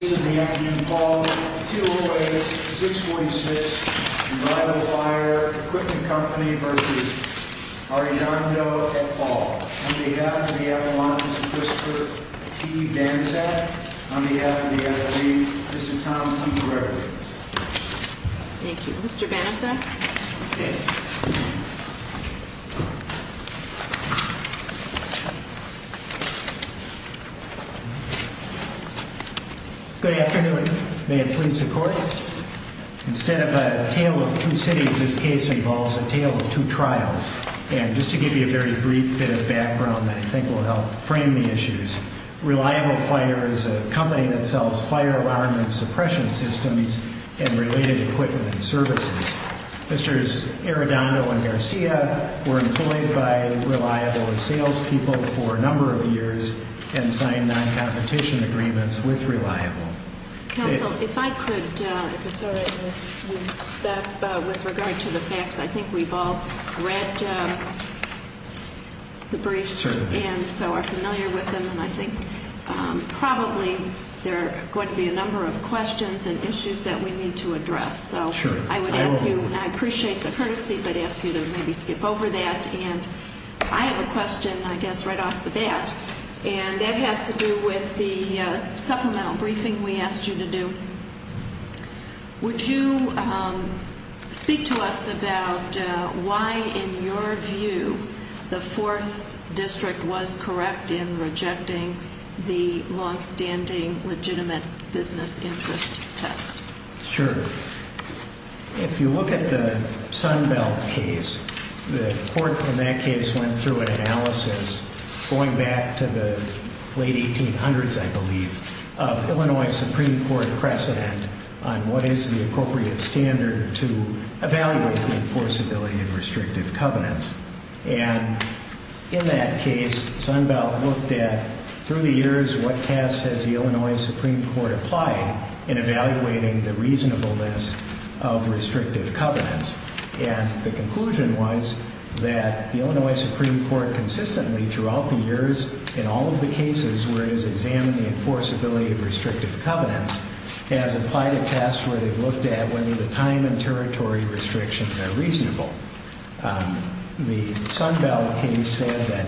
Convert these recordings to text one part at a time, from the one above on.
Paul, on behalf of the Appalachians and Christopher P. Banasac, on behalf of the FAA, this is Tom T. Gregory. Thank you. Mr. Banasac? Good afternoon. May it please the Court? Instead of a tale of two cities, this case involves a tale of two trials. And just to give you a very brief bit of background, I think, will help frame the issues. Reliable Fire is a company that sells fire alarm and suppression systems and related equipment and services. Mr. Arrendondo and Garcia were employed by Reliable as salespeople for a number of years and signed non-competition agreements with Reliable. Counsel, if I could, if it's all right with you, step with regard to the facts. I think we've all read the briefs and so are familiar with them. And I think probably there are going to be a number of questions and issues that we need to address. So I would ask you, and I appreciate the courtesy, but ask you to maybe skip over that. And I have a question, I guess, right off the bat, and that has to do with the supplemental briefing we asked you to do. Would you speak to us about why, in your view, the Fourth District was correct in rejecting the longstanding legitimate business interest test? Sure. If you look at the Sunbelt case, the court in that case went through an analysis going back to the late 1800s, I believe, of Illinois Supreme Court precedent on what is the appropriate standard to evaluate the enforceability of restrictive covenants. And in that case, Sunbelt looked at, through the years, what tests has the Illinois Supreme Court applied in evaluating the reasonableness of restrictive covenants. And the conclusion was that the Illinois Supreme Court consistently, throughout the years, in all of the cases where it has examined the enforceability of restrictive covenants, has applied a test where they've looked at whether the time and territory restrictions are reasonable. The Sunbelt case said that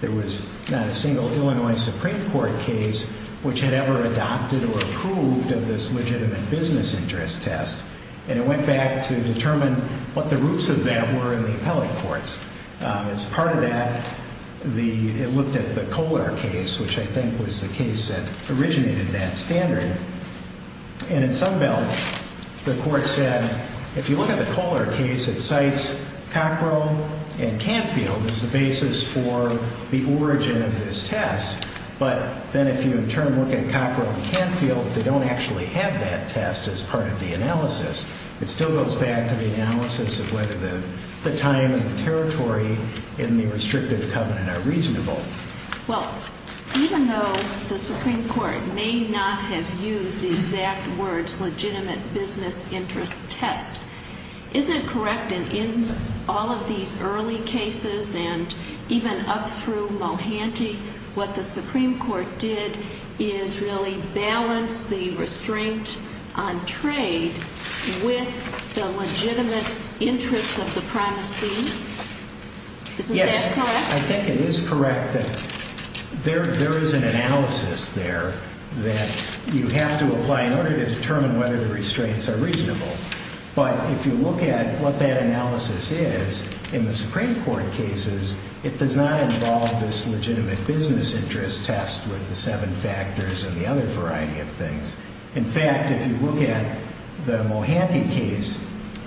there was not a single Illinois Supreme Court case which had ever adopted or approved of this legitimate business interest test. And it went back to determine what the roots of that were in the appellate courts. As part of that, it looked at the Kohler case, which I think was the case that originated that standard. And in Sunbelt, the court said, if you look at the Kohler case, it cites Cockrell and Canfield as the basis for the origin of this test. But then if you, in turn, look at Cockrell and Canfield, they don't actually have that test as part of the analysis. It still goes back to the analysis of whether the time and the territory in the restrictive covenant are reasonable. Well, even though the Supreme Court may not have used the exact words legitimate business interest test, isn't it correct that in all of these early cases, and even up through Mohanty, what the Supreme Court did is really balance the restraint on trade with the legitimate interest of the primacy? Isn't that correct? Yes, I think it is correct that there is an analysis there that you have to apply in order to determine whether the restraints are reasonable. But if you look at what that analysis is, in the Supreme Court cases, it does not involve this legitimate business interest test with the seven factors and the other variety of things. In fact, if you look at the Mohanty case,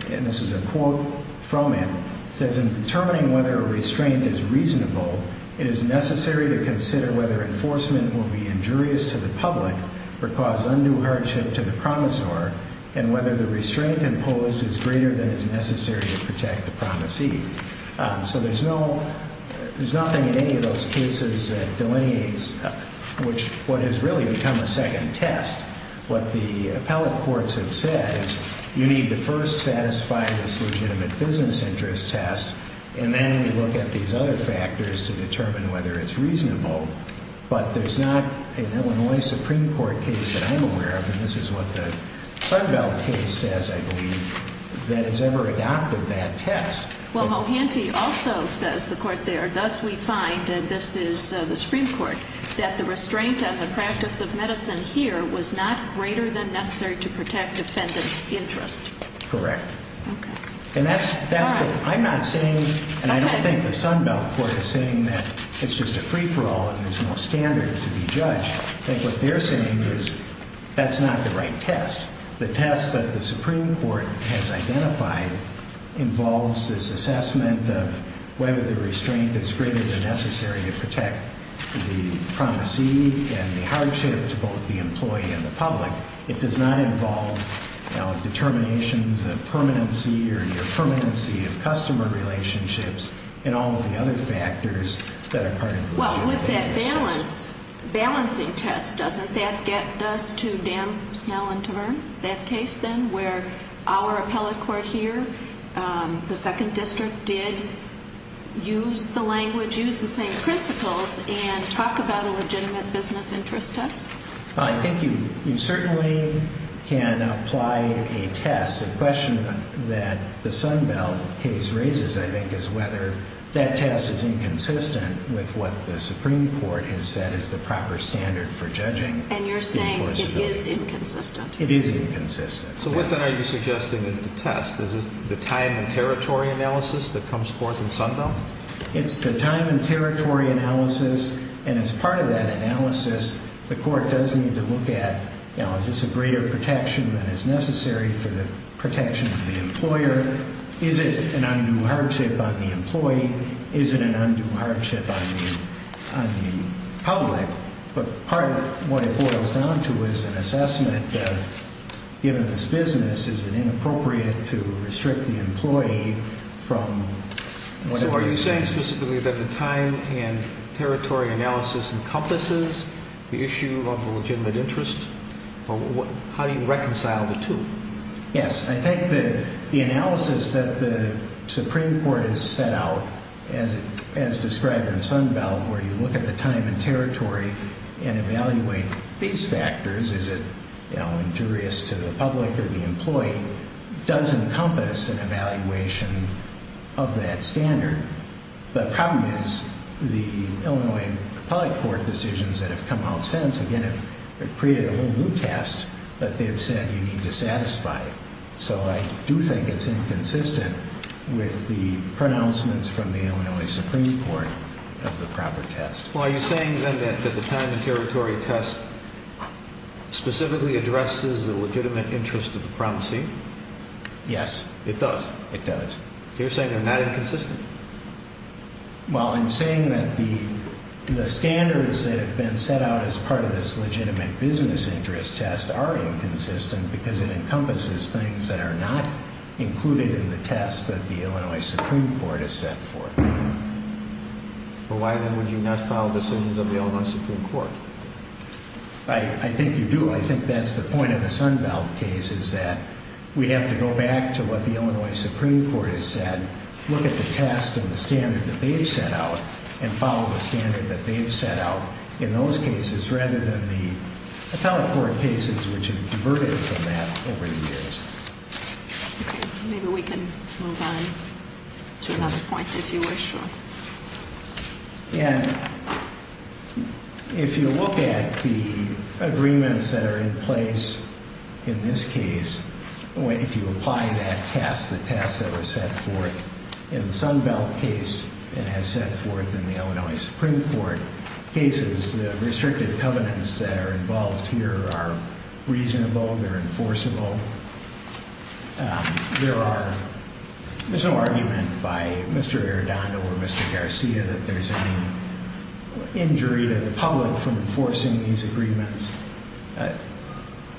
and this is a quote from it, it says, in determining whether a restraint is reasonable, it is necessary to consider whether enforcement will be injurious to the public or cause undue hardship to the promisor, and whether the restraint imposed is greater than is necessary to protect the promisee. So there's nothing in any of those cases that delineates what has really become a second test. What the appellate courts have said is you need to first satisfy this legitimate business interest test, and then you look at these other factors to determine whether it's reasonable. But there's not an Illinois Supreme Court case that I'm aware of, and this is what the Sunbelt case says, I believe, that has ever adopted that test. Well, Mohanty also says, the court there, thus we find, and this is the Supreme Court, that the restraint on the practice of medicine here was not greater than necessary to protect defendant's interest. Correct. Okay. And that's the, I'm not saying, and I don't think the Sunbelt court is saying that it's just a free-for-all and there's no standard to be judged. I think what they're saying is that's not the right test. The test that the Supreme Court has identified involves this assessment of whether the restraint is greater than necessary to protect the promisee and the hardship to both the employee and the public. It does not involve determinations of permanency or the permanency of customer relationships and all of the other factors that are part of the legitimate business interest test. Now, with that balance, balancing test, doesn't that get us to Dam, Snell, and Tavern, that case, then, where our appellate court here, the second district, did use the language, use the same principles, and talk about a legitimate business interest test? I think you certainly can apply a test. The question that the Sunbelt case raises, I think, is whether that test is inconsistent with what the Supreme Court has said is the proper standard for judging. And you're saying it is inconsistent. It is inconsistent. So what then are you suggesting is the test? Is this the time and territory analysis that comes forth in Sunbelt? It's the time and territory analysis. And as part of that analysis, the court does need to look at, you know, is this a greater protection than is necessary for the protection of the employer? Is it an undue hardship on the employee? Is it an undue hardship on the public? But part of what it boils down to is an assessment that, given this business, is it inappropriate to restrict the employee from whatever it is. So are you saying specifically that the time and territory analysis encompasses the issue of the legitimate interest? How do you reconcile the two? Yes. I think that the analysis that the Supreme Court has set out, as described in Sunbelt, where you look at the time and territory and evaluate these factors, is it injurious to the public or the employee, does encompass an evaluation of that standard. The problem is the Illinois Appellate Court decisions that have come out since, again, have created a whole new test that they have said you need to satisfy. So I do think it's inconsistent with the pronouncements from the Illinois Supreme Court of the proper test. Well, are you saying then that the time and territory test specifically addresses the legitimate interest of the promising? Yes, it does. It does. So you're saying they're not inconsistent? Well, I'm saying that the standards that have been set out as part of this legitimate business interest test are inconsistent because it encompasses things that are not included in the test that the Illinois Supreme Court has set forth. Well, why then would you not file decisions of the Illinois Supreme Court? I think you do. I think that's the point of the Sunbelt case is that we have to go back to what the Illinois Supreme Court has said, look at the test and the standard that they've set out, and follow the standard that they've set out in those cases rather than the Appellate Court cases which have diverted from that over the years. Okay. Maybe we can move on to another point if you wish. And if you look at the agreements that are in place in this case, if you apply that test, the test that was set forth in the Sunbelt case and has set forth in the Illinois Supreme Court cases, the restricted covenants that are involved here are reasonable, they're enforceable. There's no argument by Mr. Arredondo or Mr. Garcia that there's any injury to the public from enforcing these agreements.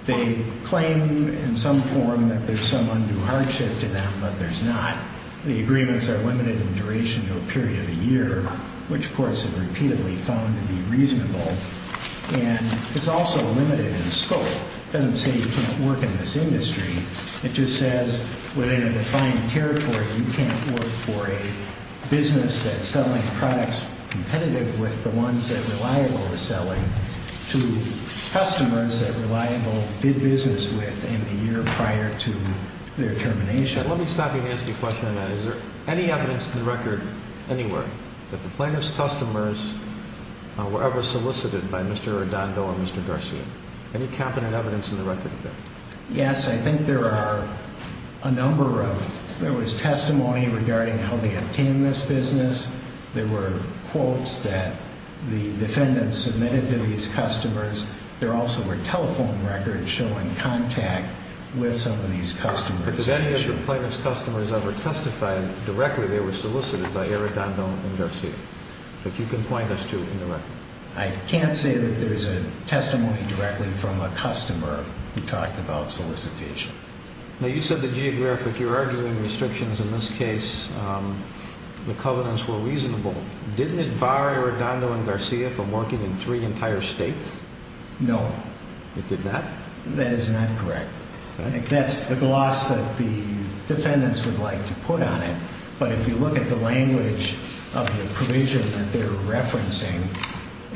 They claim in some form that there's some undue hardship to them, but there's not. The agreements are limited in duration to a period of a year, which courts have repeatedly found to be reasonable, and it's also limited in scope. It doesn't say you can't work in this industry. It just says within a defined territory, you can't work for a business that's selling products competitive with the ones that Reliable is selling to customers that Reliable did business with in the year prior to their termination. Let me stop you and ask you a question on that. Is there any evidence in the record anywhere that the plaintiff's customers were ever solicited by Mr. Arredondo or Mr. Garcia? Any competent evidence in the record there? Yes, I think there are a number of – there was testimony regarding how they obtained this business. There were quotes that the defendants submitted to these customers. There also were telephone records showing contact with some of these customers. Did any of the plaintiff's customers ever testify directly they were solicited by Arredondo and Garcia that you can point us to in the record? I can't say that there's a testimony directly from a customer who talked about solicitation. Now, you said the geographic – you're arguing restrictions in this case, the covenants were reasonable. Didn't it bar Arredondo and Garcia from working in three entire states? No. It did not? That is not correct. I think that's the gloss that the defendants would like to put on it, but if you look at the language of the provision that they're referencing,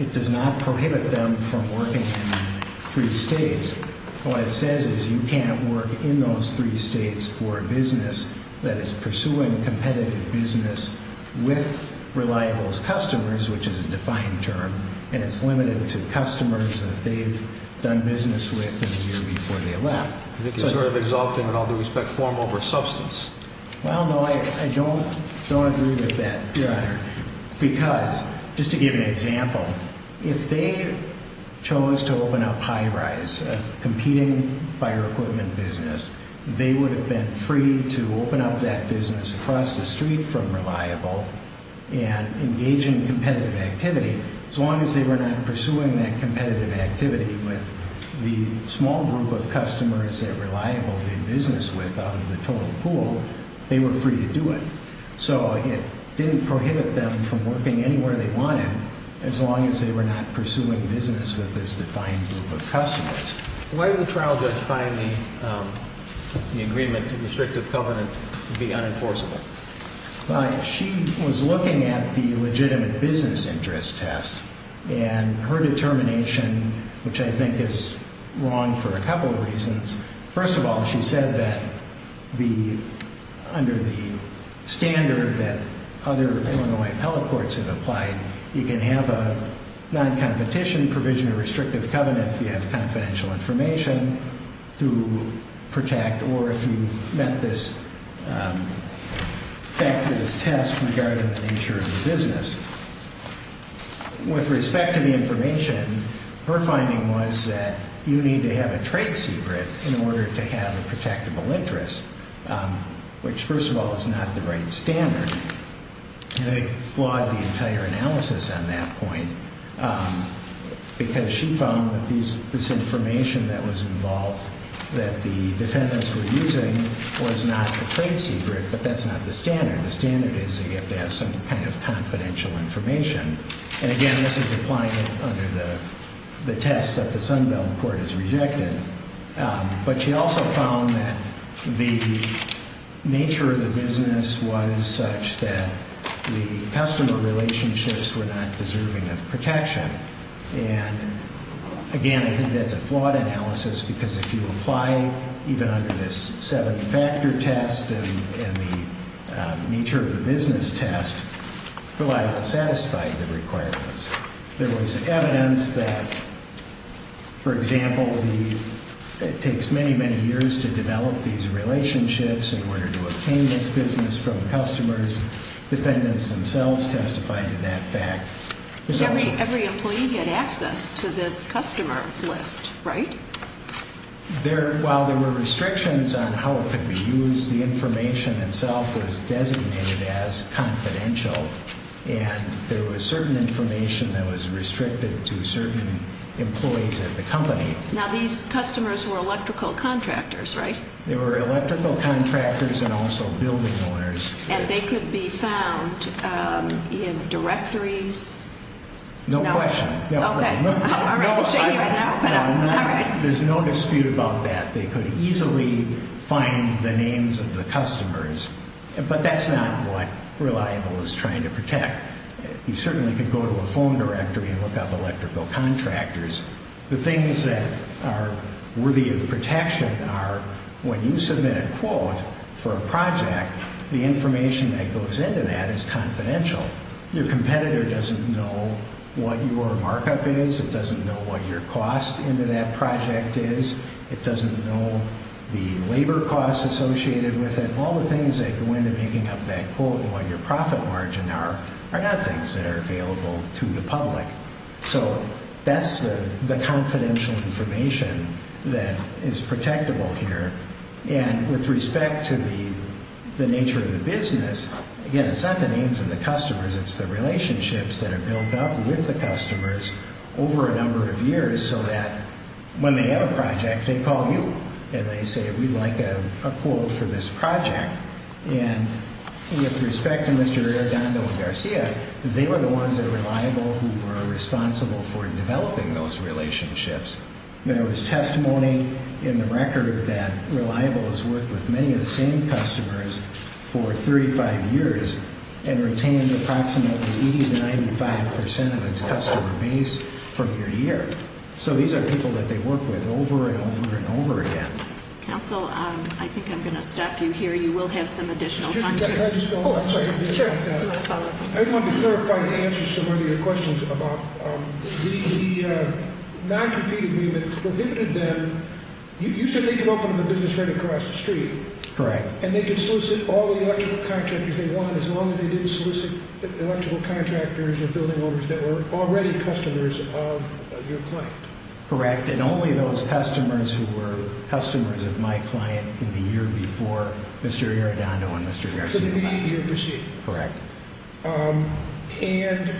it does not prohibit them from working in three states. What it says is you can't work in those three states for a business that is pursuing competitive business with reliable customers, which is a defined term, and it's limited to customers that they've done business with in the year before they left. I think you're sort of exalting, in all due respect, form over substance. Well, no, I don't agree with that, Your Honor, because, just to give an example, if they chose to open up High Rise, a competing fire equipment business, they would have been free to open up that business across the street from Reliable and engage in competitive activity. As long as they were not pursuing that competitive activity with the small group of customers that Reliable did business with out of the total pool, they were free to do it. So it didn't prohibit them from working anywhere they wanted as long as they were not pursuing business with this defined group of customers. Why did the trial judge find the agreement to restrictive covenant to be unenforceable? She was looking at the legitimate business interest test, and her determination, which I think is wrong for a couple of reasons. First of all, she said that under the standard that other Illinois appellate courts have applied, you can have a non-competition provision of restrictive covenant if you have confidential information to protect or if you've met this test regarding the nature of the business. With respect to the information, her finding was that you need to have a trade secret in order to have a protectable interest, which, first of all, is not the right standard. And I flawed the entire analysis on that point because she found that this information that was involved that the defendants were using was not the trade secret, but that's not the standard. The standard is that you have to have some kind of confidential information. And again, this is applied under the test that the Sunbelt Court has rejected. But she also found that the nature of the business was such that the customer relationships were not deserving of protection. And again, I think that's a flawed analysis because if you apply even under this seven-factor test and the nature of the business test, it's not reliable to satisfy the requirements. There was evidence that, for example, it takes many, many years to develop these relationships in order to obtain this business from customers. Defendants themselves testified to that fact. Every employee had access to this customer list, right? While there were restrictions on how it could be used, the information itself was designated as confidential. And there was certain information that was restricted to certain employees at the company. Now, these customers were electrical contractors, right? They were electrical contractors and also building owners. And they could be found in directories? No question. Okay. I'll show you right now. There's no dispute about that. They could easily find the names of the customers. But that's not what reliable is trying to protect. You certainly could go to a phone directory and look up electrical contractors. The things that are worthy of protection are when you submit a quote for a project, the information that goes into that is confidential. Your competitor doesn't know what your markup is. It doesn't know what your cost into that project is. It doesn't know the labor costs associated with it. All the things that go into making up that quote and what your profit margin are are not things that are available to the public. So that's the confidential information that is protectable here. And with respect to the nature of the business, again, it's not the names of the customers. It's the relationships that are built up with the customers over a number of years so that when they have a project, they call you. And they say, we'd like a quote for this project. And with respect to Mr. Arredondo and Garcia, they were the ones that were reliable, who were responsible for developing those relationships. There was testimony in the record that Reliable has worked with many of the same customers for 35 years and retained approximately 80 to 95 percent of its customer base from your year. So these are people that they work with over and over and over again. Counsel, I think I'm going to stop you here. You will have some additional time. I just want to clarify and answer some of your questions about the non-competitive agreement that prohibited them. You said they could open a business right across the street. Correct. And they could solicit all the electrical contractors they want as long as they didn't solicit electrical contractors or building owners that were already customers of your client. Correct. And only those customers who were customers of my client in the year before Mr. Arredondo and Mr. Garcia. Correct. And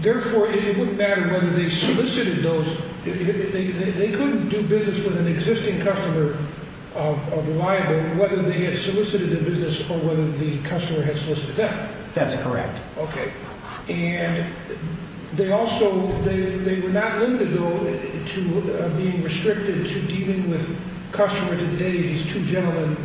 therefore, it wouldn't matter whether they solicited those. They couldn't do business with an existing customer of Reliable whether they had solicited the business or whether the customer had solicited them. That's correct. Okay. And they also, they were not limited though to being restricted to dealing with customers of the day these two gentlemen,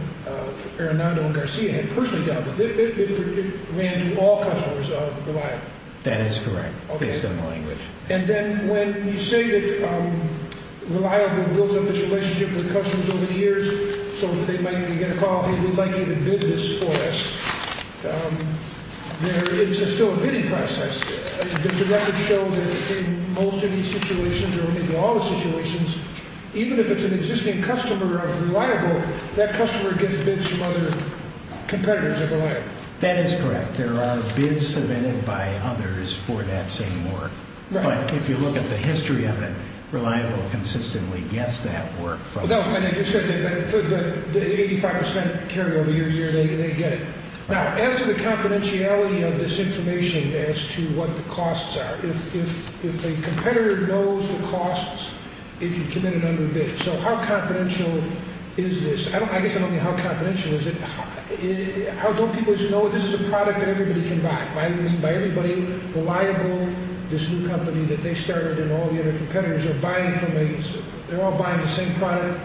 Arredondo and Garcia, had personally dealt with. It ran to all customers of Reliable. That is correct, based on the language. And then when you say that Reliable builds up its relationship with customers over the years so that they might even get a call, hey, we'd like you to bid this for us, it's still a bidding process. There's a record show that in most of these situations, or maybe all the situations, even if it's an existing customer of Reliable, that customer gets bids from other competitors of Reliable. That is correct. There are bids submitted by others for that same work. Right. But if you look at the history of it, Reliable consistently gets that work. But the 85 percent carryover year to year, they get it. Now, as to the confidentiality of this information as to what the costs are, if a competitor knows the costs, it can commit an underbid. So how confidential is this? I guess I don't mean how confidential is it. How don't people just know this is a product that everybody can buy? I mean, by everybody, Reliable, this new company that they started and all the other competitors, they're all buying the same product,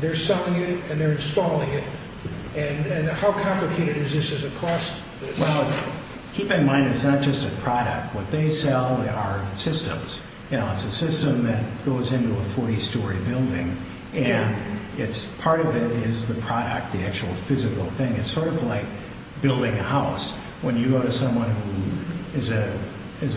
they're selling it, and they're installing it. And how complicated is this as a cost? Well, keep in mind it's not just a product. What they sell are systems. It's a system that goes into a 40-story building, and part of it is the product, the actual physical thing. It's sort of like building a house. When you go to someone who is a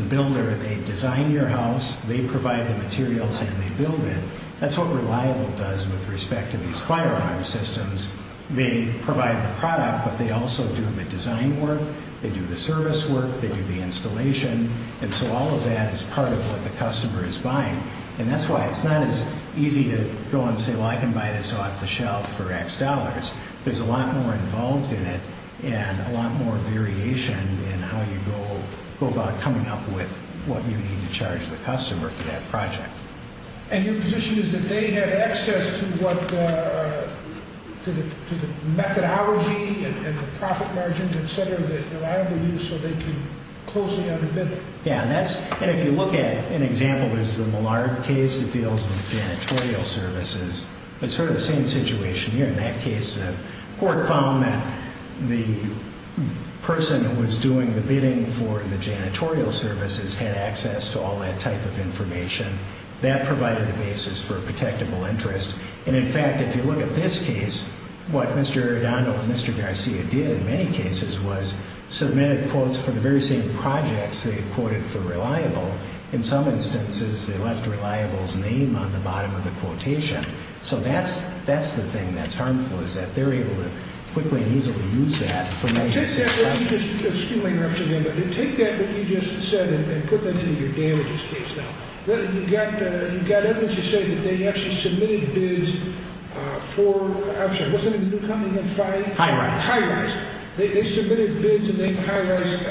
builder and they design your house, they provide the materials and they build it. That's what Reliable does with respect to these firearm systems. They provide the product, but they also do the design work, they do the service work, they do the installation. And so all of that is part of what the customer is buying. And that's why it's not as easy to go and say, well, I can buy this off the shelf for X dollars. There's a lot more involved in it and a lot more variation in how you go about coming up with what you need to charge the customer for that project. And your position is that they have access to the methodology and the profit margins, et cetera, that Reliable uses so they can closely underpin it? Yeah, and if you look at an example, there's the Millard case that deals with janitorial services. It's sort of the same situation here. In that case, the court found that the person who was doing the bidding for the janitorial services had access to all that type of information. That provided a basis for a protectable interest. And, in fact, if you look at this case, what Mr. Arredondo and Mr. Garcia did in many cases was submitted quotes for the very same projects they quoted for Reliable. In some instances, they left Reliable's name on the bottom of the quotation. So that's the thing that's harmful is that they're able to quickly and easily use that for many cases. Excuse my interruption again, but take that that you just said and put that into your damages case now. You've got evidence to say that they actually submitted bids for, I'm sorry, what's the name of the new company? High Rise. High Rise. They submitted bids to High Rise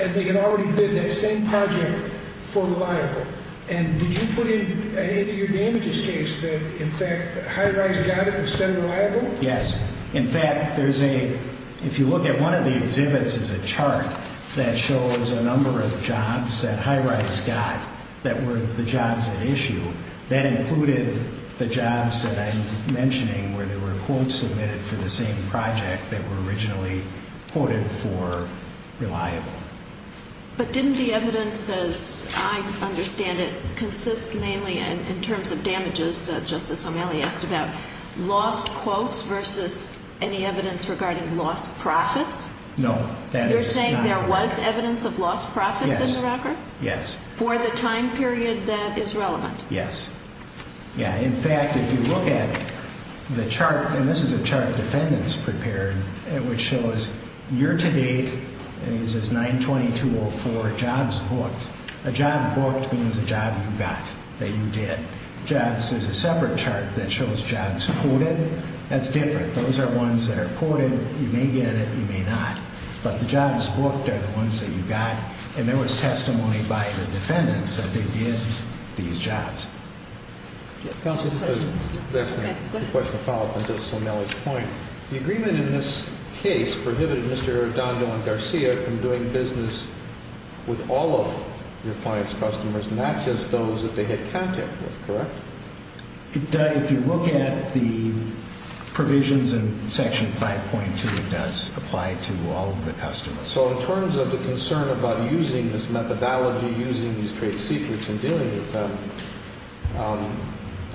and they had already bid that same project for Reliable. And did you put into your damages case that, in fact, High Rise got it instead of Reliable? Yes. In fact, there's a, if you look at one of the exhibits, there's a chart that shows a number of jobs that High Rise got that were the jobs at issue. That included the jobs that I'm mentioning where there were quotes submitted for the same project that were originally quoted for Reliable. But didn't the evidence, as I understand it, consist mainly in terms of damages that Justice O'Malley asked about? Lost quotes versus any evidence regarding lost profits? No. You're saying there was evidence of lost profits in the record? Yes. For the time period that is relevant? Yes. Yeah. In fact, if you look at it, the chart, and this is a chart defendants prepared, which shows year to date, and this is 9-22-04 jobs booked. A job booked means a job you got, that you did. Jobs, there's a separate chart that shows jobs quoted. That's different. Those are ones that are quoted. You may get it, you may not. But the jobs booked are the ones that you got, and there was testimony by the defendants that they did these jobs. Counsel, just a quick question to follow up on Justice O'Malley's point. The agreement in this case prohibited Mr. Dondo and Garcia from doing business with all of your clients' customers, not just those that they had contact with, correct? If you look at the provisions in Section 5.2, it does apply to all of the customers. So in terms of the concern about using this methodology, using these trade secrets, and dealing with them,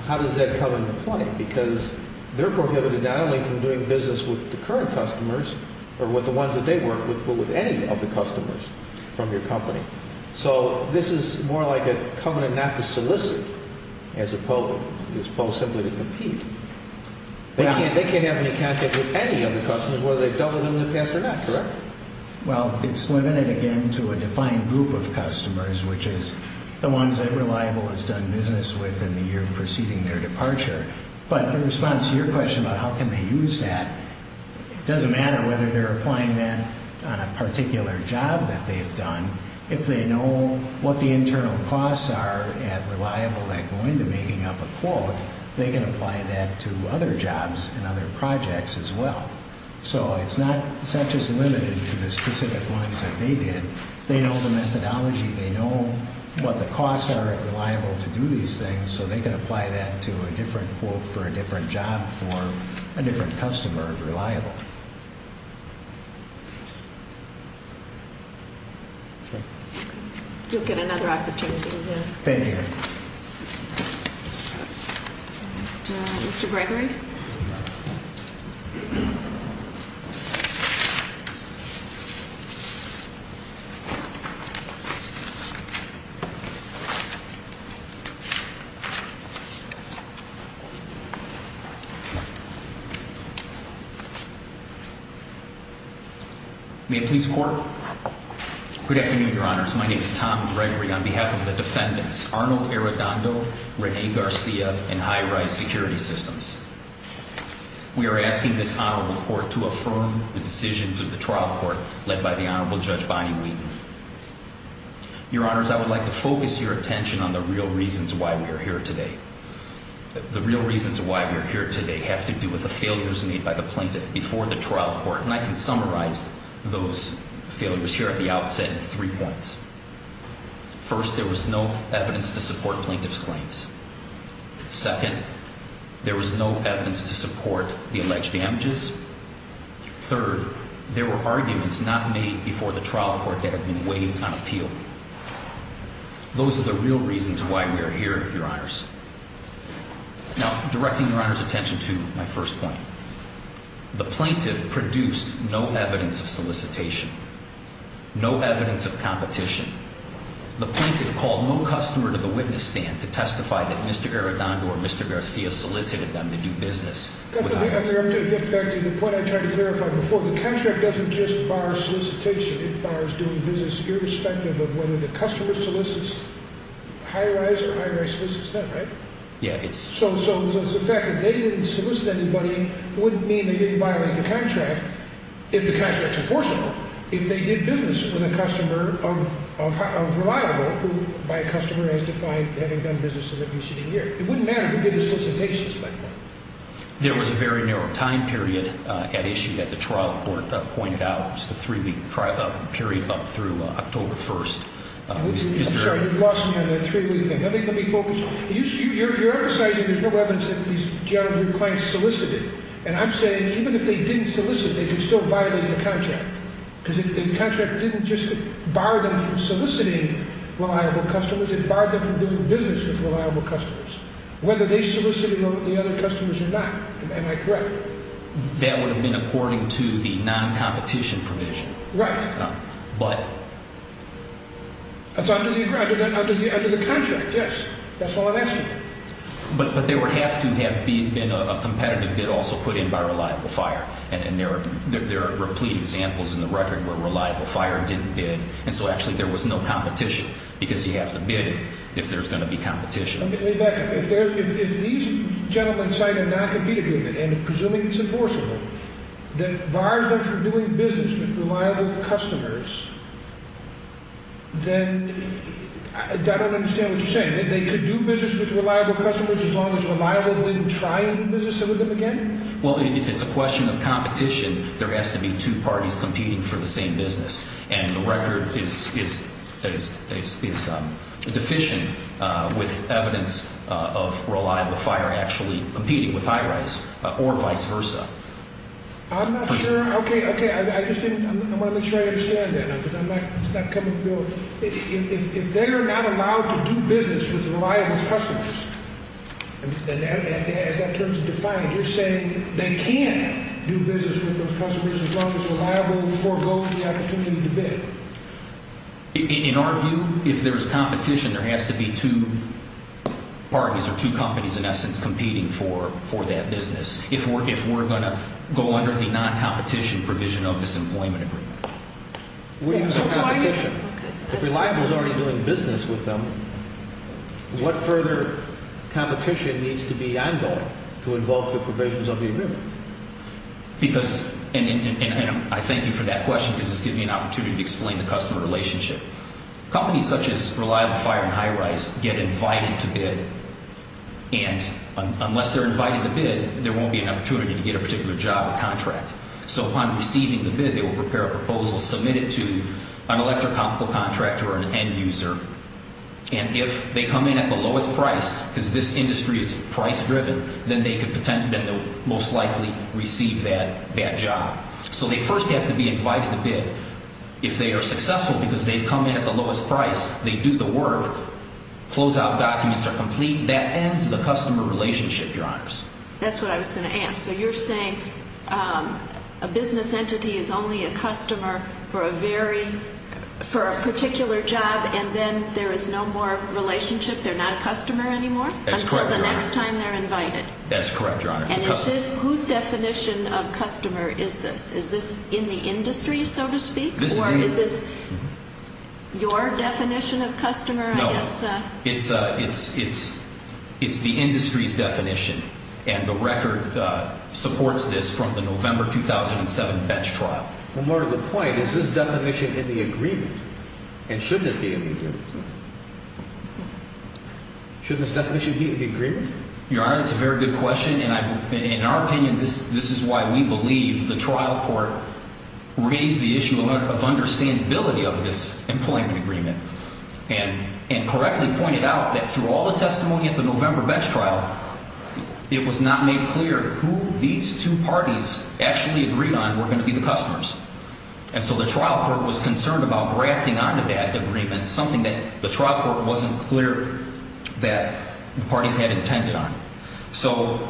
how does that come into play? Because they're prohibited not only from doing business with the current customers, or with the ones that they work with, but with any of the customers from your company. So this is more like a covenant not to solicit as opposed simply to compete. They can't have any contact with any of the customers, whether they've dealt with them in the past or not, correct? Well, it's limited again to a defined group of customers, which is the ones that Reliable has done business with in the year preceding their departure. But in response to your question about how can they use that, it doesn't matter whether they're applying that on a particular job that they've done. If they know what the internal costs are at Reliable that go into making up a quote, they can apply that to other jobs and other projects as well. So it's not just limited to the specific ones that they did. They know the methodology. They know what the costs are at Reliable to do these things. So they can apply that to a different quote for a different job for a different customer of Reliable. You'll get another opportunity. Thank you. Mr. Gregory. Thank you. Good afternoon, Your Honors. My name is Tom Gregory on behalf of the defendants, Arnold Arredondo, Renee Garcia, and High Rise Security Systems. We are asking this Honorable Court to affirm the decisions of the trial court led by the Honorable Judge Bonnie Wheaton. Your Honors, I would like to focus your attention on the real reasons why we are here today. The real reasons why we are here today have to do with the failures made by the plaintiff before the trial court. And I can summarize those failures here at the outset in three points. First, there was no evidence to support plaintiff's claims. Second, there was no evidence to support the alleged damages. Third, there were arguments not made before the trial court that have been waived on appeal. Those are the real reasons why we are here, Your Honors. Now, directing Your Honor's attention to my first point. The plaintiff produced no evidence of solicitation, no evidence of competition. The plaintiff called no customer to the witness stand to testify that Mr. Arredondo or Mr. Garcia solicited them to do business. I'm going to get back to the point I tried to clarify before. The contract doesn't just bar solicitation. It bars doing business irrespective of whether the customer solicits High Rise or High Rise solicits them, right? Yeah. So the fact that they didn't solicit anybody wouldn't mean they didn't violate the contract, if the contract's enforceable, if they did business with a customer of reliable who, by customer, has defined having done business in the preceding year. It wouldn't matter who did the solicitation at that point. There was a very narrow time period at issue that the trial court pointed out. It was the three-week period up through October 1st. Sorry, you've lost me on that three-week thing. Let me focus. You're emphasizing there's no evidence that these general group clients solicited. And I'm saying even if they didn't solicit, they could still violate the contract because the contract didn't just bar them from soliciting reliable customers. It barred them from doing business with reliable customers, whether they solicited the other customers or not. Am I correct? That would have been according to the non-competition provision. Right. But… That's under the contract, yes. That's all I'm asking. But there would have to have been a competitive bid also put in by Reliable Fire. And there are replete examples in the record where Reliable Fire didn't bid, and so actually there was no competition because you have to bid if there's going to be competition. Let me back up. If these gentlemen cite a non-compete agreement and are presuming it's enforceable, that bars them from doing business with reliable customers, then I don't understand what you're saying. They could do business with reliable customers as long as Reliable didn't try to do business with them again? Well, if it's a question of competition, there has to be two parties competing for the same business. And the record is deficient with evidence of Reliable Fire actually competing with High-Rise or vice versa. I'm not sure. Okay, okay. I just didn't – I want to make sure I understand that. It's not coming to me. If they are not allowed to do business with reliable customers, and as that term is defined, you're saying they can't do business with those customers as long as Reliable forgoes the opportunity to bid? In our view, if there's competition, there has to be two parties or two companies, in essence, competing for that business if we're going to go under the non-competition provision of this employment agreement. If Reliable is already doing business with them, what further competition needs to be ongoing to involve the provisions of the agreement? Because – and I thank you for that question because it's given me an opportunity to explain the customer relationship. Companies such as Reliable Fire and High-Rise get invited to bid, and unless they're invited to bid, there won't be an opportunity to get a particular job or contract. So upon receiving the bid, they will prepare a proposal, submit it to an electrochemical contractor or an end user, and if they come in at the lowest price, because this industry is price-driven, then they could most likely receive that job. So they first have to be invited to bid. If they are successful because they've come in at the lowest price, they do the work, closeout documents are complete, that ends the customer relationship, Your Honors. That's what I was going to ask. So you're saying a business entity is only a customer for a very – for a particular job, and then there is no more relationship? They're not a customer anymore? That's correct, Your Honor. Until the next time they're invited? That's correct, Your Honor. And is this – whose definition of customer is this? Is this in the industry, so to speak, or is this your definition of customer, I guess? It's the industry's definition, and the record supports this from the November 2007 bench trial. Well, more to the point, is this definition in the agreement, and shouldn't it be in the agreement? Shouldn't this definition be in the agreement? Your Honor, that's a very good question, and in our opinion, this is why we believe the trial court raised the issue of understandability of this employment agreement and correctly pointed out that through all the testimony at the November bench trial, it was not made clear who these two parties actually agreed on were going to be the customers. And so the trial court was concerned about grafting onto that agreement something that the trial court wasn't clear that the parties had intended on. So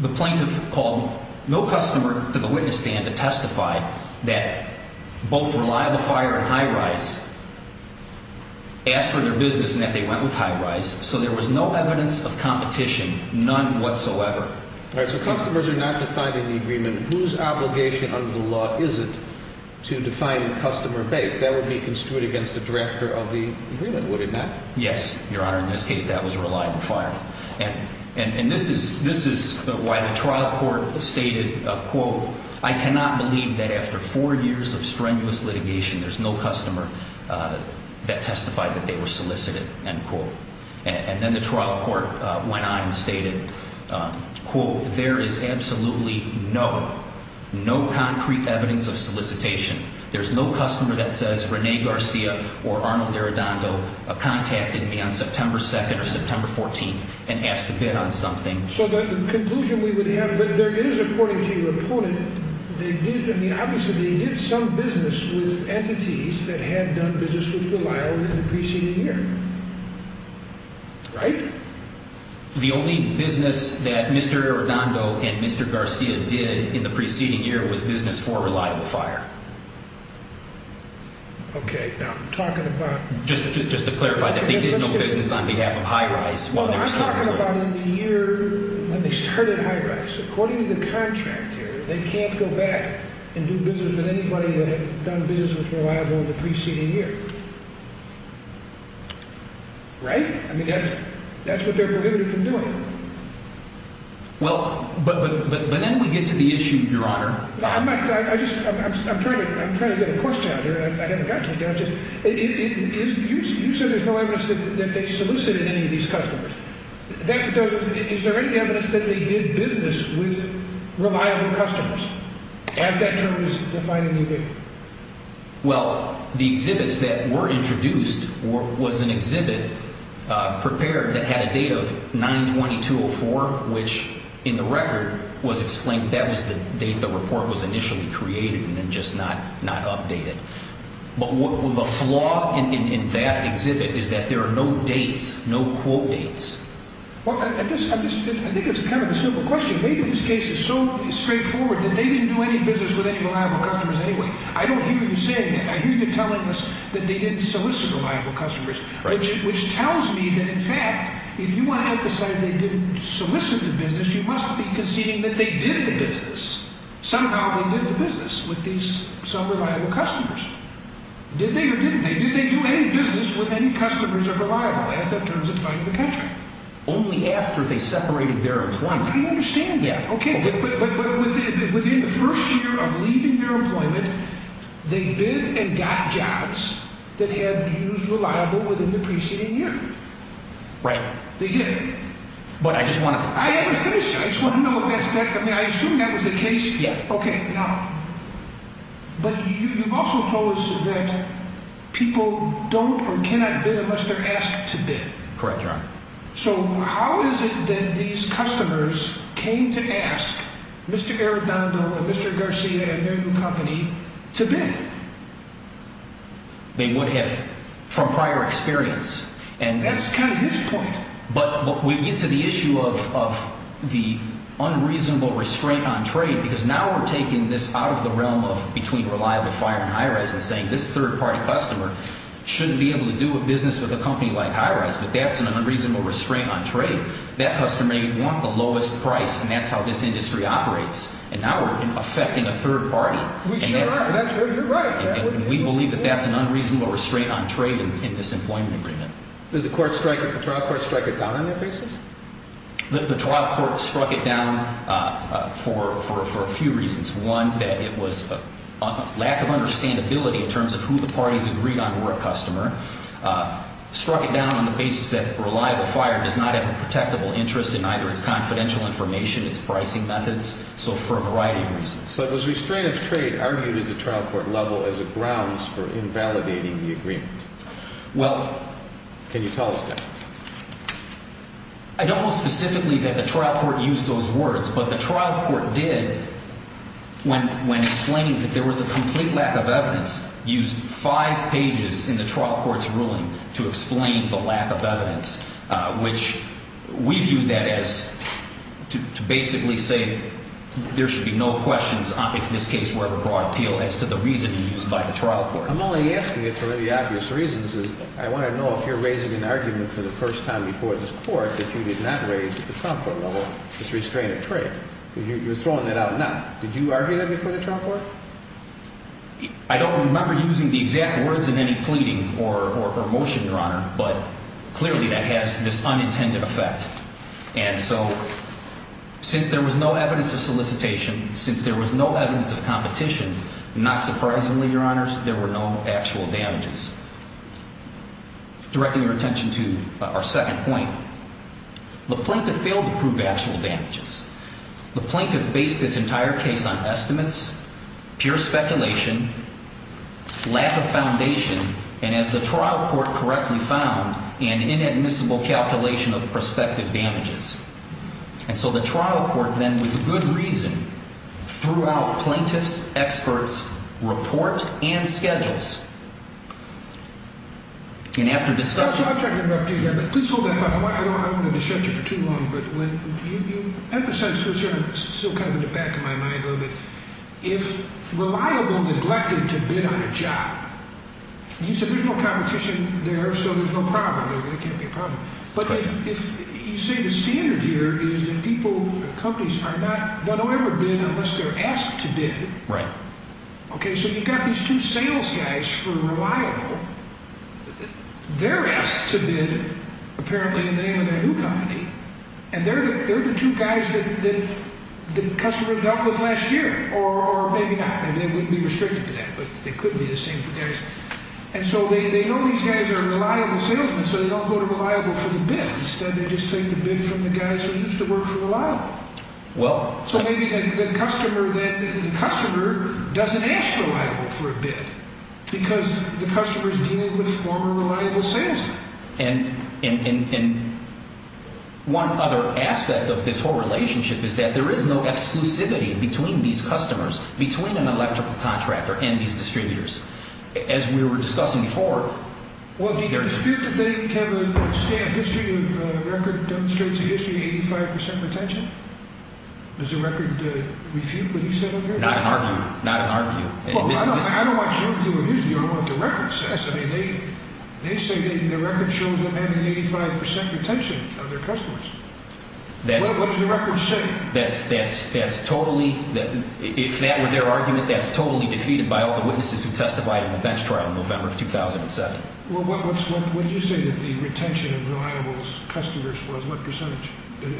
the plaintiff called no customer to the witness stand to testify that both Reliable Fire and Hi-Rise asked for their business and that they went with Hi-Rise. So there was no evidence of competition, none whatsoever. All right, so customers are not defined in the agreement. Whose obligation under the law is it to define the customer base? That would be construed against the director of the agreement, would it not? Yes, Your Honor. In this case, that was Reliable Fire. And this is why the trial court stated, quote, I cannot believe that after four years of strenuous litigation, there's no customer that testified that they were solicited, end quote. And then the trial court went on and stated, quote, there is absolutely no concrete evidence of solicitation. There's no customer that says Rene Garcia or Arnold Arredondo contacted me on September 2nd or September 14th and asked to bid on something. So the conclusion we would have that there is, according to your opponent, they did, I mean, obviously they did some business with entities that had done business with Reliable in the preceding year. Right? The only business that Mr. Arredondo and Mr. Garcia did in the preceding year was business for Reliable Fire. Okay, now I'm talking about. Just to clarify that they did no business on behalf of Hi-Rise. Well, I'm talking about in the year when they started Hi-Rise. According to the contract here, they can't go back and do business with anybody that had done business with Reliable in the preceding year. Right? I mean, that's what they're prohibited from doing. Well, but then we get to the issue, Your Honor. I'm trying to get a question out here, and I haven't got to yet. You said there's no evidence that they solicited any of these customers. Is there any evidence that they did business with Reliable customers, as that term is defined in the agreement? Well, the exhibits that were introduced was an exhibit prepared that had a date of 9-22-04, which in the record was explained. That was the date the report was initially created and then just not updated. But the flaw in that exhibit is that there are no dates, no quote dates. Well, I think it's kind of a simple question. Maybe this case is so straightforward that they didn't do any business with any Reliable customers anyway. I don't hear you saying that. I hear you telling us that they didn't solicit Reliable customers, which tells me that, in fact, if you want to emphasize they didn't solicit the business, you must be conceding that they did the business. Somehow they did the business with these some Reliable customers. Did they or didn't they? Did they do any business with any customers of Reliable, as that term is defined in the contract? Only after they separated their employment. I understand that. Okay. But within the first year of leaving their employment, they did and got jobs that had used Reliable within the preceding year. Right. They did. But I just want to… I haven't finished. I just want to know if that's… I mean, I assume that was the case. Yeah. Okay. Now, but you've also told us that people don't or cannot bid unless they're asked to bid. Correct, Your Honor. So how is it that these customers came to ask Mr. Arredondo and Mr. Garcia and their new company to bid? They would have from prior experience. That's kind of his point. But we get to the issue of the unreasonable restraint on trade because now we're taking this out of the realm of between Reliable Fire and Hi-Rez and saying this third-party customer shouldn't be able to do a business with a company like Hi-Rez. But that's an unreasonable restraint on trade. That customer may want the lowest price, and that's how this industry operates. And now we're affecting a third party. We sure are. You're right. And we believe that that's an unreasonable restraint on trade in this employment agreement. Did the trial court strike it down on their basis? The trial court struck it down for a few reasons. One, that it was a lack of understandability in terms of who the parties agreed on were a customer. Struck it down on the basis that Reliable Fire does not have a protectable interest in either its confidential information, its pricing methods. So for a variety of reasons. But was restraint of trade argued at the trial court level as a grounds for invalidating the agreement? Well. Can you tell us that? I don't know specifically that the trial court used those words. But the trial court did, when explaining that there was a complete lack of evidence, used five pages in the trial court's ruling to explain the lack of evidence, which we viewed that as to basically say there should be no questions, if this case were ever brought to appeal, as to the reasoning used by the trial court. I'm only asking it for very obvious reasons. I want to know if you're raising an argument for the first time before this court that you did not raise at the trial court level this restraint of trade. You're throwing that out now. Did you argue that before the trial court? I don't remember using the exact words in any pleading or motion, Your Honor. But clearly that has this unintended effect. And so since there was no evidence of solicitation, since there was no evidence of competition, not surprisingly, Your Honors, there were no actual damages. Directing your attention to our second point, the plaintiff failed to prove actual damages. The plaintiff based its entire case on estimates, pure speculation, lack of foundation, and as the trial court correctly found, an inadmissible calculation of prospective damages. And so the trial court then, with good reason, threw out plaintiff's expert's report and schedules. And after discussing... I'll try to interrupt you again, but please hold that thought. I don't want to distract you for too long, but when you emphasize this here, it's still kind of in the back of my mind a little bit. If reliable neglected to bid on a job, you said there's no competition there, so there's no problem. There really can't be a problem. But if you say the standard here is that people, companies, don't ever bid unless they're asked to bid. Right. Okay, so you've got these two sales guys for reliable. They're asked to bid, apparently, in the name of that new company, and they're the two guys that the customer dealt with last year, or maybe not. And they wouldn't be restricted to that, but they could be the same. And so they know these guys are reliable salesmen, so they don't go to reliable for the bid. Instead, they just take the bid from the guys who used to work for reliable. So maybe the customer doesn't ask reliable for a bid, because the customer's dealing with former reliable salesmen. And one other aspect of this whole relationship is that there is no exclusivity between these customers, between an electrical contractor and these distributors. As we were discussing before, Well, do you dispute that they have a stamp history of a record that demonstrates a history of 85% retention? Does the record refute what he said up here? Not in our view. Not in our view. Well, I don't know what your view or his view of what the record says. I mean, they say that the record shows them having 85% retention of their customers. Well, what does the record say? That's totally, if that were their argument, that's totally defeated by all the witnesses who testified in the bench trial in November of 2007. Well, when you say that the retention of reliable customers was what percentage,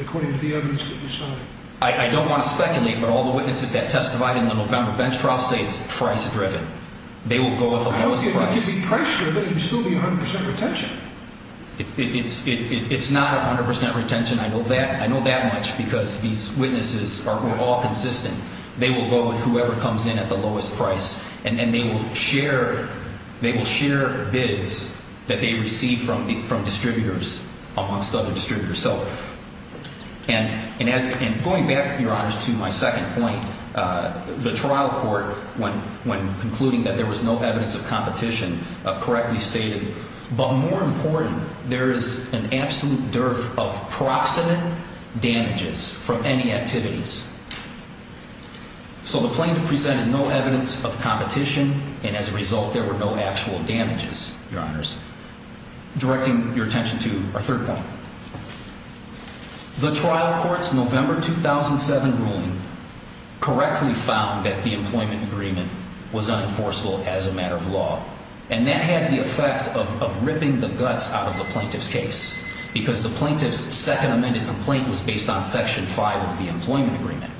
according to the evidence that you cited? I don't want to speculate, but all the witnesses that testified in the November bench trial say it's price-driven. They will go with the lowest price. It could be price-driven and still be 100% retention. It's not 100% retention. I know that much because these witnesses are all consistent. They will go with whoever comes in at the lowest price, and they will share bids that they receive from distributors amongst other distributors. And going back, Your Honors, to my second point, the trial court, when concluding that there was no evidence of competition, correctly stated, but more important, there is an absolute dearth of proximate damages from any activities. So the plaintiff presented no evidence of competition, and as a result there were no actual damages, Your Honors. Directing your attention to our third point, the trial court's November 2007 ruling correctly found that the employment agreement was unenforceable as a matter of law, and that had the effect of ripping the guts out of the plaintiff's case because the plaintiff's second amended complaint was based on Section 5 of the employment agreement.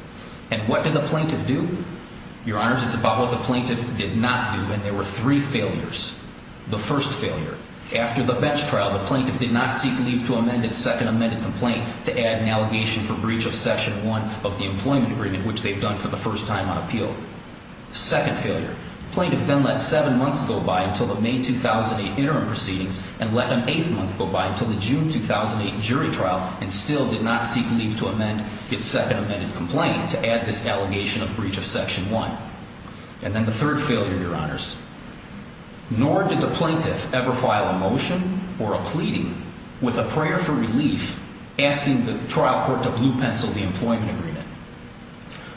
And what did the plaintiff do? Your Honors, it's about what the plaintiff did not do, and there were three failures. The first failure, after the bench trial, the plaintiff did not seek leave to amend its second amended complaint to add an allegation for breach of Section 1 of the employment agreement, which they've done for the first time on appeal. The second failure, the plaintiff then let seven months go by until the May 2008 interim proceedings and let an eighth month go by until the June 2008 jury trial and still did not seek leave to amend its second amended complaint to add this allegation of breach of Section 1. And then the third failure, Your Honors, nor did the plaintiff ever file a motion or a pleading with a prayer for relief asking the trial court to blue pencil the employment agreement.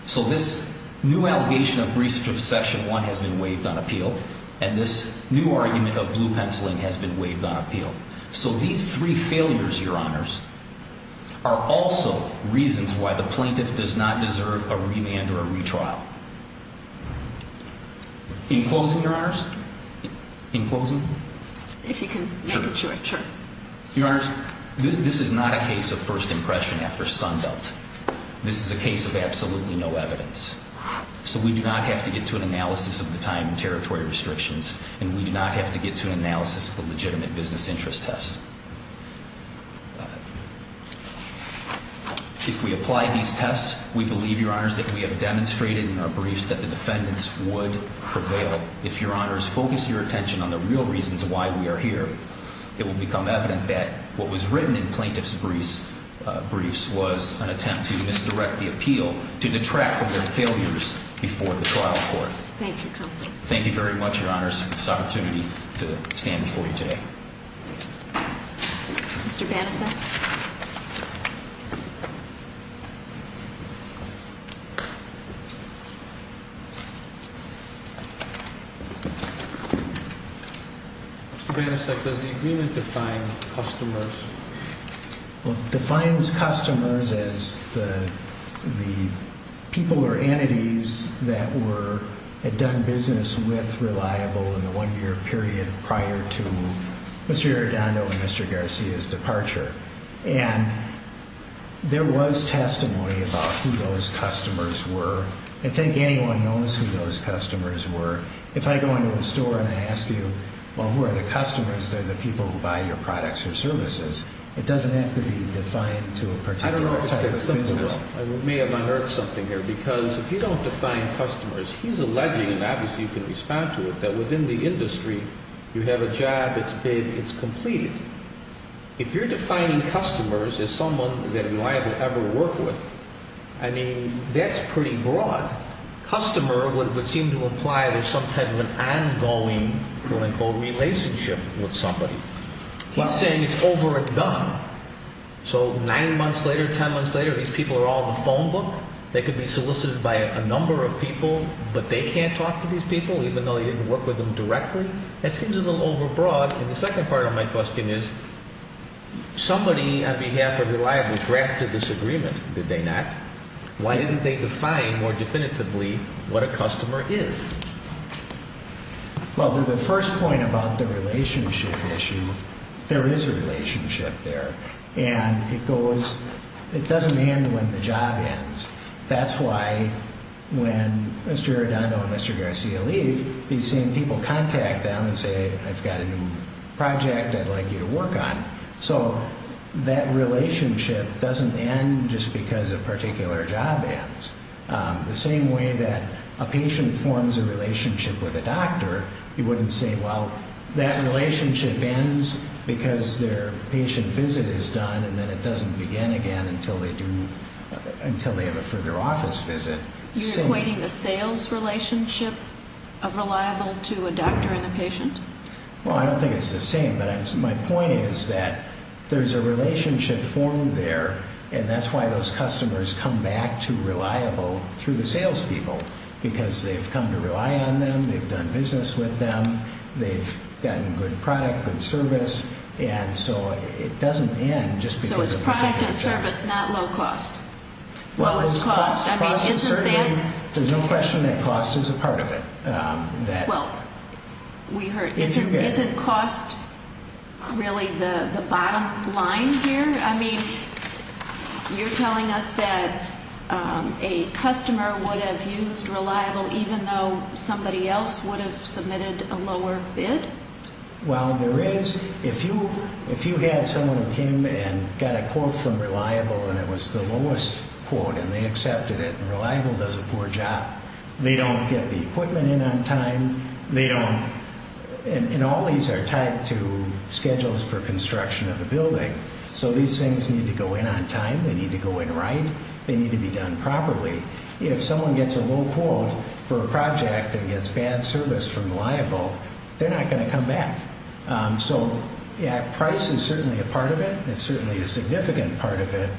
So this new allegation of breach of Section 1 has been waived on appeal and this new argument of blue penciling has been waived on appeal. So these three failures, Your Honors, are also reasons why the plaintiff does not deserve a remand or a retrial. In closing, Your Honors? In closing? If you can make a choice, sure. Your Honors, this is not a case of first impression after Sunbelt. This is a case of absolutely no evidence. So we do not have to get to an analysis of the time and territory restrictions and we do not have to get to an analysis of the legitimate business interest test. If we apply these tests, we believe, Your Honors, that we have demonstrated in our briefs that the defendants would prevail. If, Your Honors, focus your attention on the real reasons why we are here, it will become evident that what was written in plaintiff's briefs was an attempt to misdirect the appeal to detract from their failures before the trial court. Thank you, Counsel. Thank you very much, Your Honors. It's an opportunity to stand before you today. Mr. Banasek? Thank you. Mr. Banasek, does the agreement define customers? Well, it defines customers as the people or entities that had done business with Reliable in the one-year period prior to Mr. Arredondo and Mr. Garcia's departure. And there was testimony about who those customers were. I think anyone knows who those customers were. If I go into a store and I ask you, well, who are the customers? They're the people who buy your products or services. It doesn't have to be defined to a particular type of business. I may have unearthed something here because if you don't define customers, he's alleging, and obviously you can respond to it, that within the industry you have a job, it's big, it's completed. If you're defining customers as someone that Reliable ever worked with, I mean, that's pretty broad. Customer would seem to imply there's some type of an ongoing, what I call, relationship with somebody. He's saying it's over and done. So nine months later, ten months later, these people are all in the phone book. They could be solicited by a number of people, but they can't talk to these people even though they didn't work with them directly. That seems a little overbroad. And the second part of my question is somebody on behalf of Reliable drafted this agreement, did they not? Why didn't they define more definitively what a customer is? Well, to the first point about the relationship issue, there is a relationship there, and it doesn't end when the job ends. That's why when Mr. Arredondo and Mr. Garcia leave, you're seeing people contact them and say, I've got a new project I'd like you to work on. So that relationship doesn't end just because a particular job ends. The same way that a patient forms a relationship with a doctor, you wouldn't say, well, that relationship ends because their patient visit is done and then it doesn't begin again until they have a further office visit. You're equating the sales relationship of Reliable to a doctor and a patient? Well, I don't think it's the same, but my point is that there's a relationship formed there, and that's why those customers come back to Reliable through the salespeople, because they've come to rely on them, they've done business with them, they've gotten good product, good service. And so it doesn't end just because a particular job ends. So it's product and service, not low cost. Well, there's no question that cost is a part of it. Well, we heard, isn't cost really the bottom line here? I mean, you're telling us that a customer would have used Reliable even though somebody else would have submitted a lower bid? Well, there is. If you had someone who came and got a quote from Reliable and it was the lowest quote and they accepted it and Reliable does a poor job, they don't get the equipment in on time, and all these are tied to schedules for construction of a building. So these things need to go in on time, they need to go in right, they need to be done properly. If someone gets a low quote for a project and gets bad service from Reliable, they're not going to come back. So price is certainly a part of it, it's certainly a significant part of it,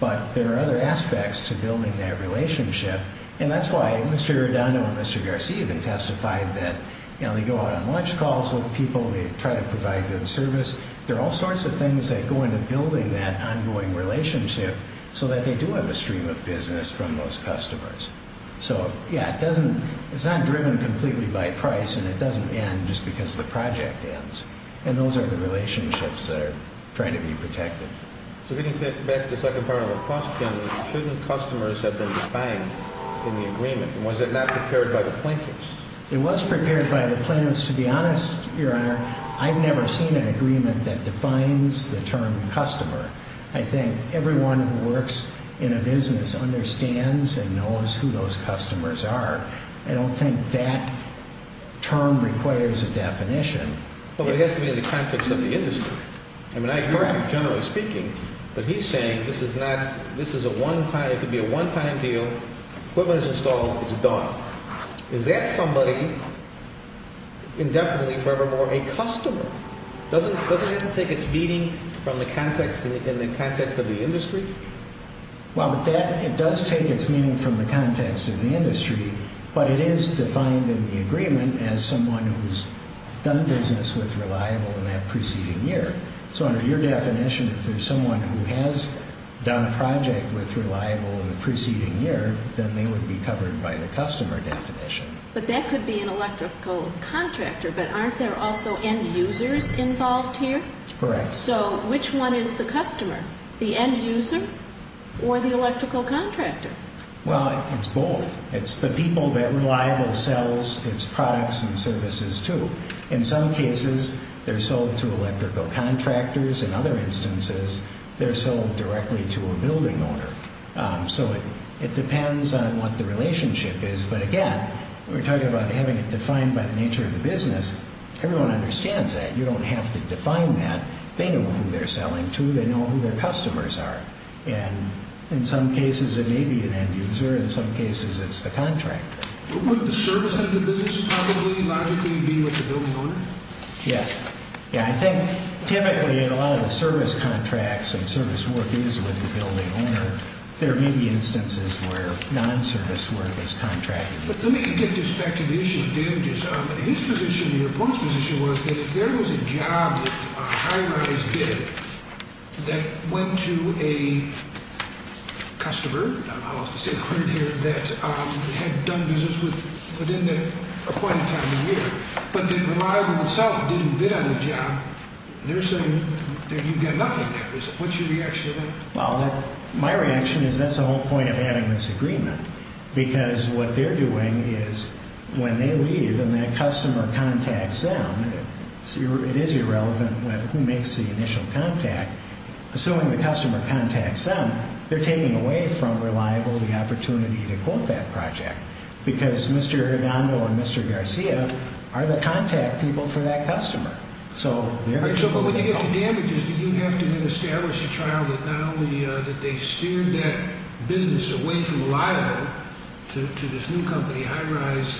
but there are other aspects to building that relationship. And that's why Mr. Redondo and Mr. Garcia even testified that they go out on lunch calls with people, they try to provide good service. There are all sorts of things that go into building that ongoing relationship so that they do have a stream of business from those customers. So, yeah, it's not driven completely by price and it doesn't end just because the project ends. And those are the relationships that are trying to be protected. So getting back to the second part of the question, shouldn't customers have been defined in the agreement? Was it not prepared by the plaintiffs? It was prepared by the plaintiffs. To be honest, Your Honor, I've never seen an agreement that defines the term customer. I think everyone who works in a business understands and knows who those customers are. I don't think that term requires a definition. Well, it has to be in the context of the industry. I mean, I agree, generally speaking. But he's saying this is a one-time, it could be a one-time deal, equipment is installed, it's done. Is that somebody, indefinitely, forevermore, a customer? Doesn't it have to take its meaning from the context of the industry? Well, it does take its meaning from the context of the industry. But it is defined in the agreement as someone who's done business with Reliable in that preceding year. So under your definition, if there's someone who has done a project with Reliable in the preceding year, then they would be covered by the customer definition. But that could be an electrical contractor, but aren't there also end users involved here? Correct. So which one is the customer, the end user or the electrical contractor? Well, it's both. It's the people that Reliable sells its products and services to. In some cases, they're sold to electrical contractors. In other instances, they're sold directly to a building owner. So it depends on what the relationship is. But again, we're talking about having it defined by the nature of the business. Everyone understands that. You don't have to define that. They know who they're selling to. They know who their customers are. And in some cases, it may be an end user. In some cases, it's the contractor. Would the service end of business probably logically be with the building owner? Yes. Yeah, I think typically in a lot of the service contracts and service work is with the building owner. There may be instances where non-service work is contracted. Let me get this back to the issue of damages. His position and your point's position was that if there was a job with a high-rise bid that went to a customer, I lost a single word here, that had done business within that appointed time of year, but that Reliable itself didn't bid on the job, they're saying that you've got nothing there. What's your reaction to that? Well, my reaction is that's the whole point of having this agreement because what they're doing is when they leave and that customer contacts them, it is irrelevant who makes the initial contact. Assuming the customer contacts them, they're taking away from Reliable the opportunity to quote that project because Mr. Hernando and Mr. Garcia are the contact people for that customer. So when you get to damages, do you have to then establish a trial that not only that they steered that business away from Reliable to this new company, High-Rise,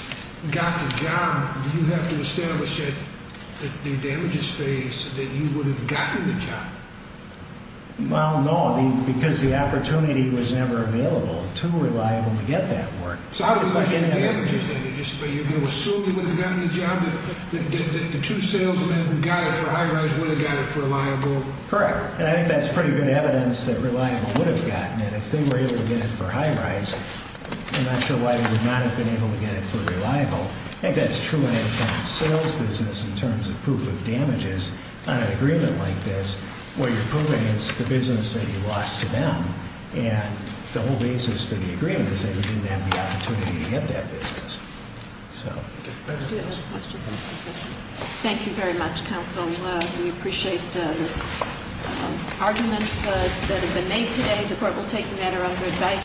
got the job, do you have to establish that new damages phase that you would have gotten the job? Well, no, because the opportunity was never available to Reliable to get that work. So how do you measure the damages? Do you assume you would have gotten the job that the two salesmen who got it for High-Rise would have gotten it for Reliable? Correct, and I think that's pretty good evidence that Reliable would have gotten it. If they were able to get it for High-Rise, I'm not sure why they would not have been able to get it for Reliable. I think that's true in any kind of sales business in terms of proof of damages. On an agreement like this, what you're proving is the business that you lost to them, and the whole basis for the agreement is that you didn't have the opportunity to get that business. So thank you very much. Do you have any questions? Thank you very much, counsel. We appreciate the arguments that have been made today. The court will take the matter under advice.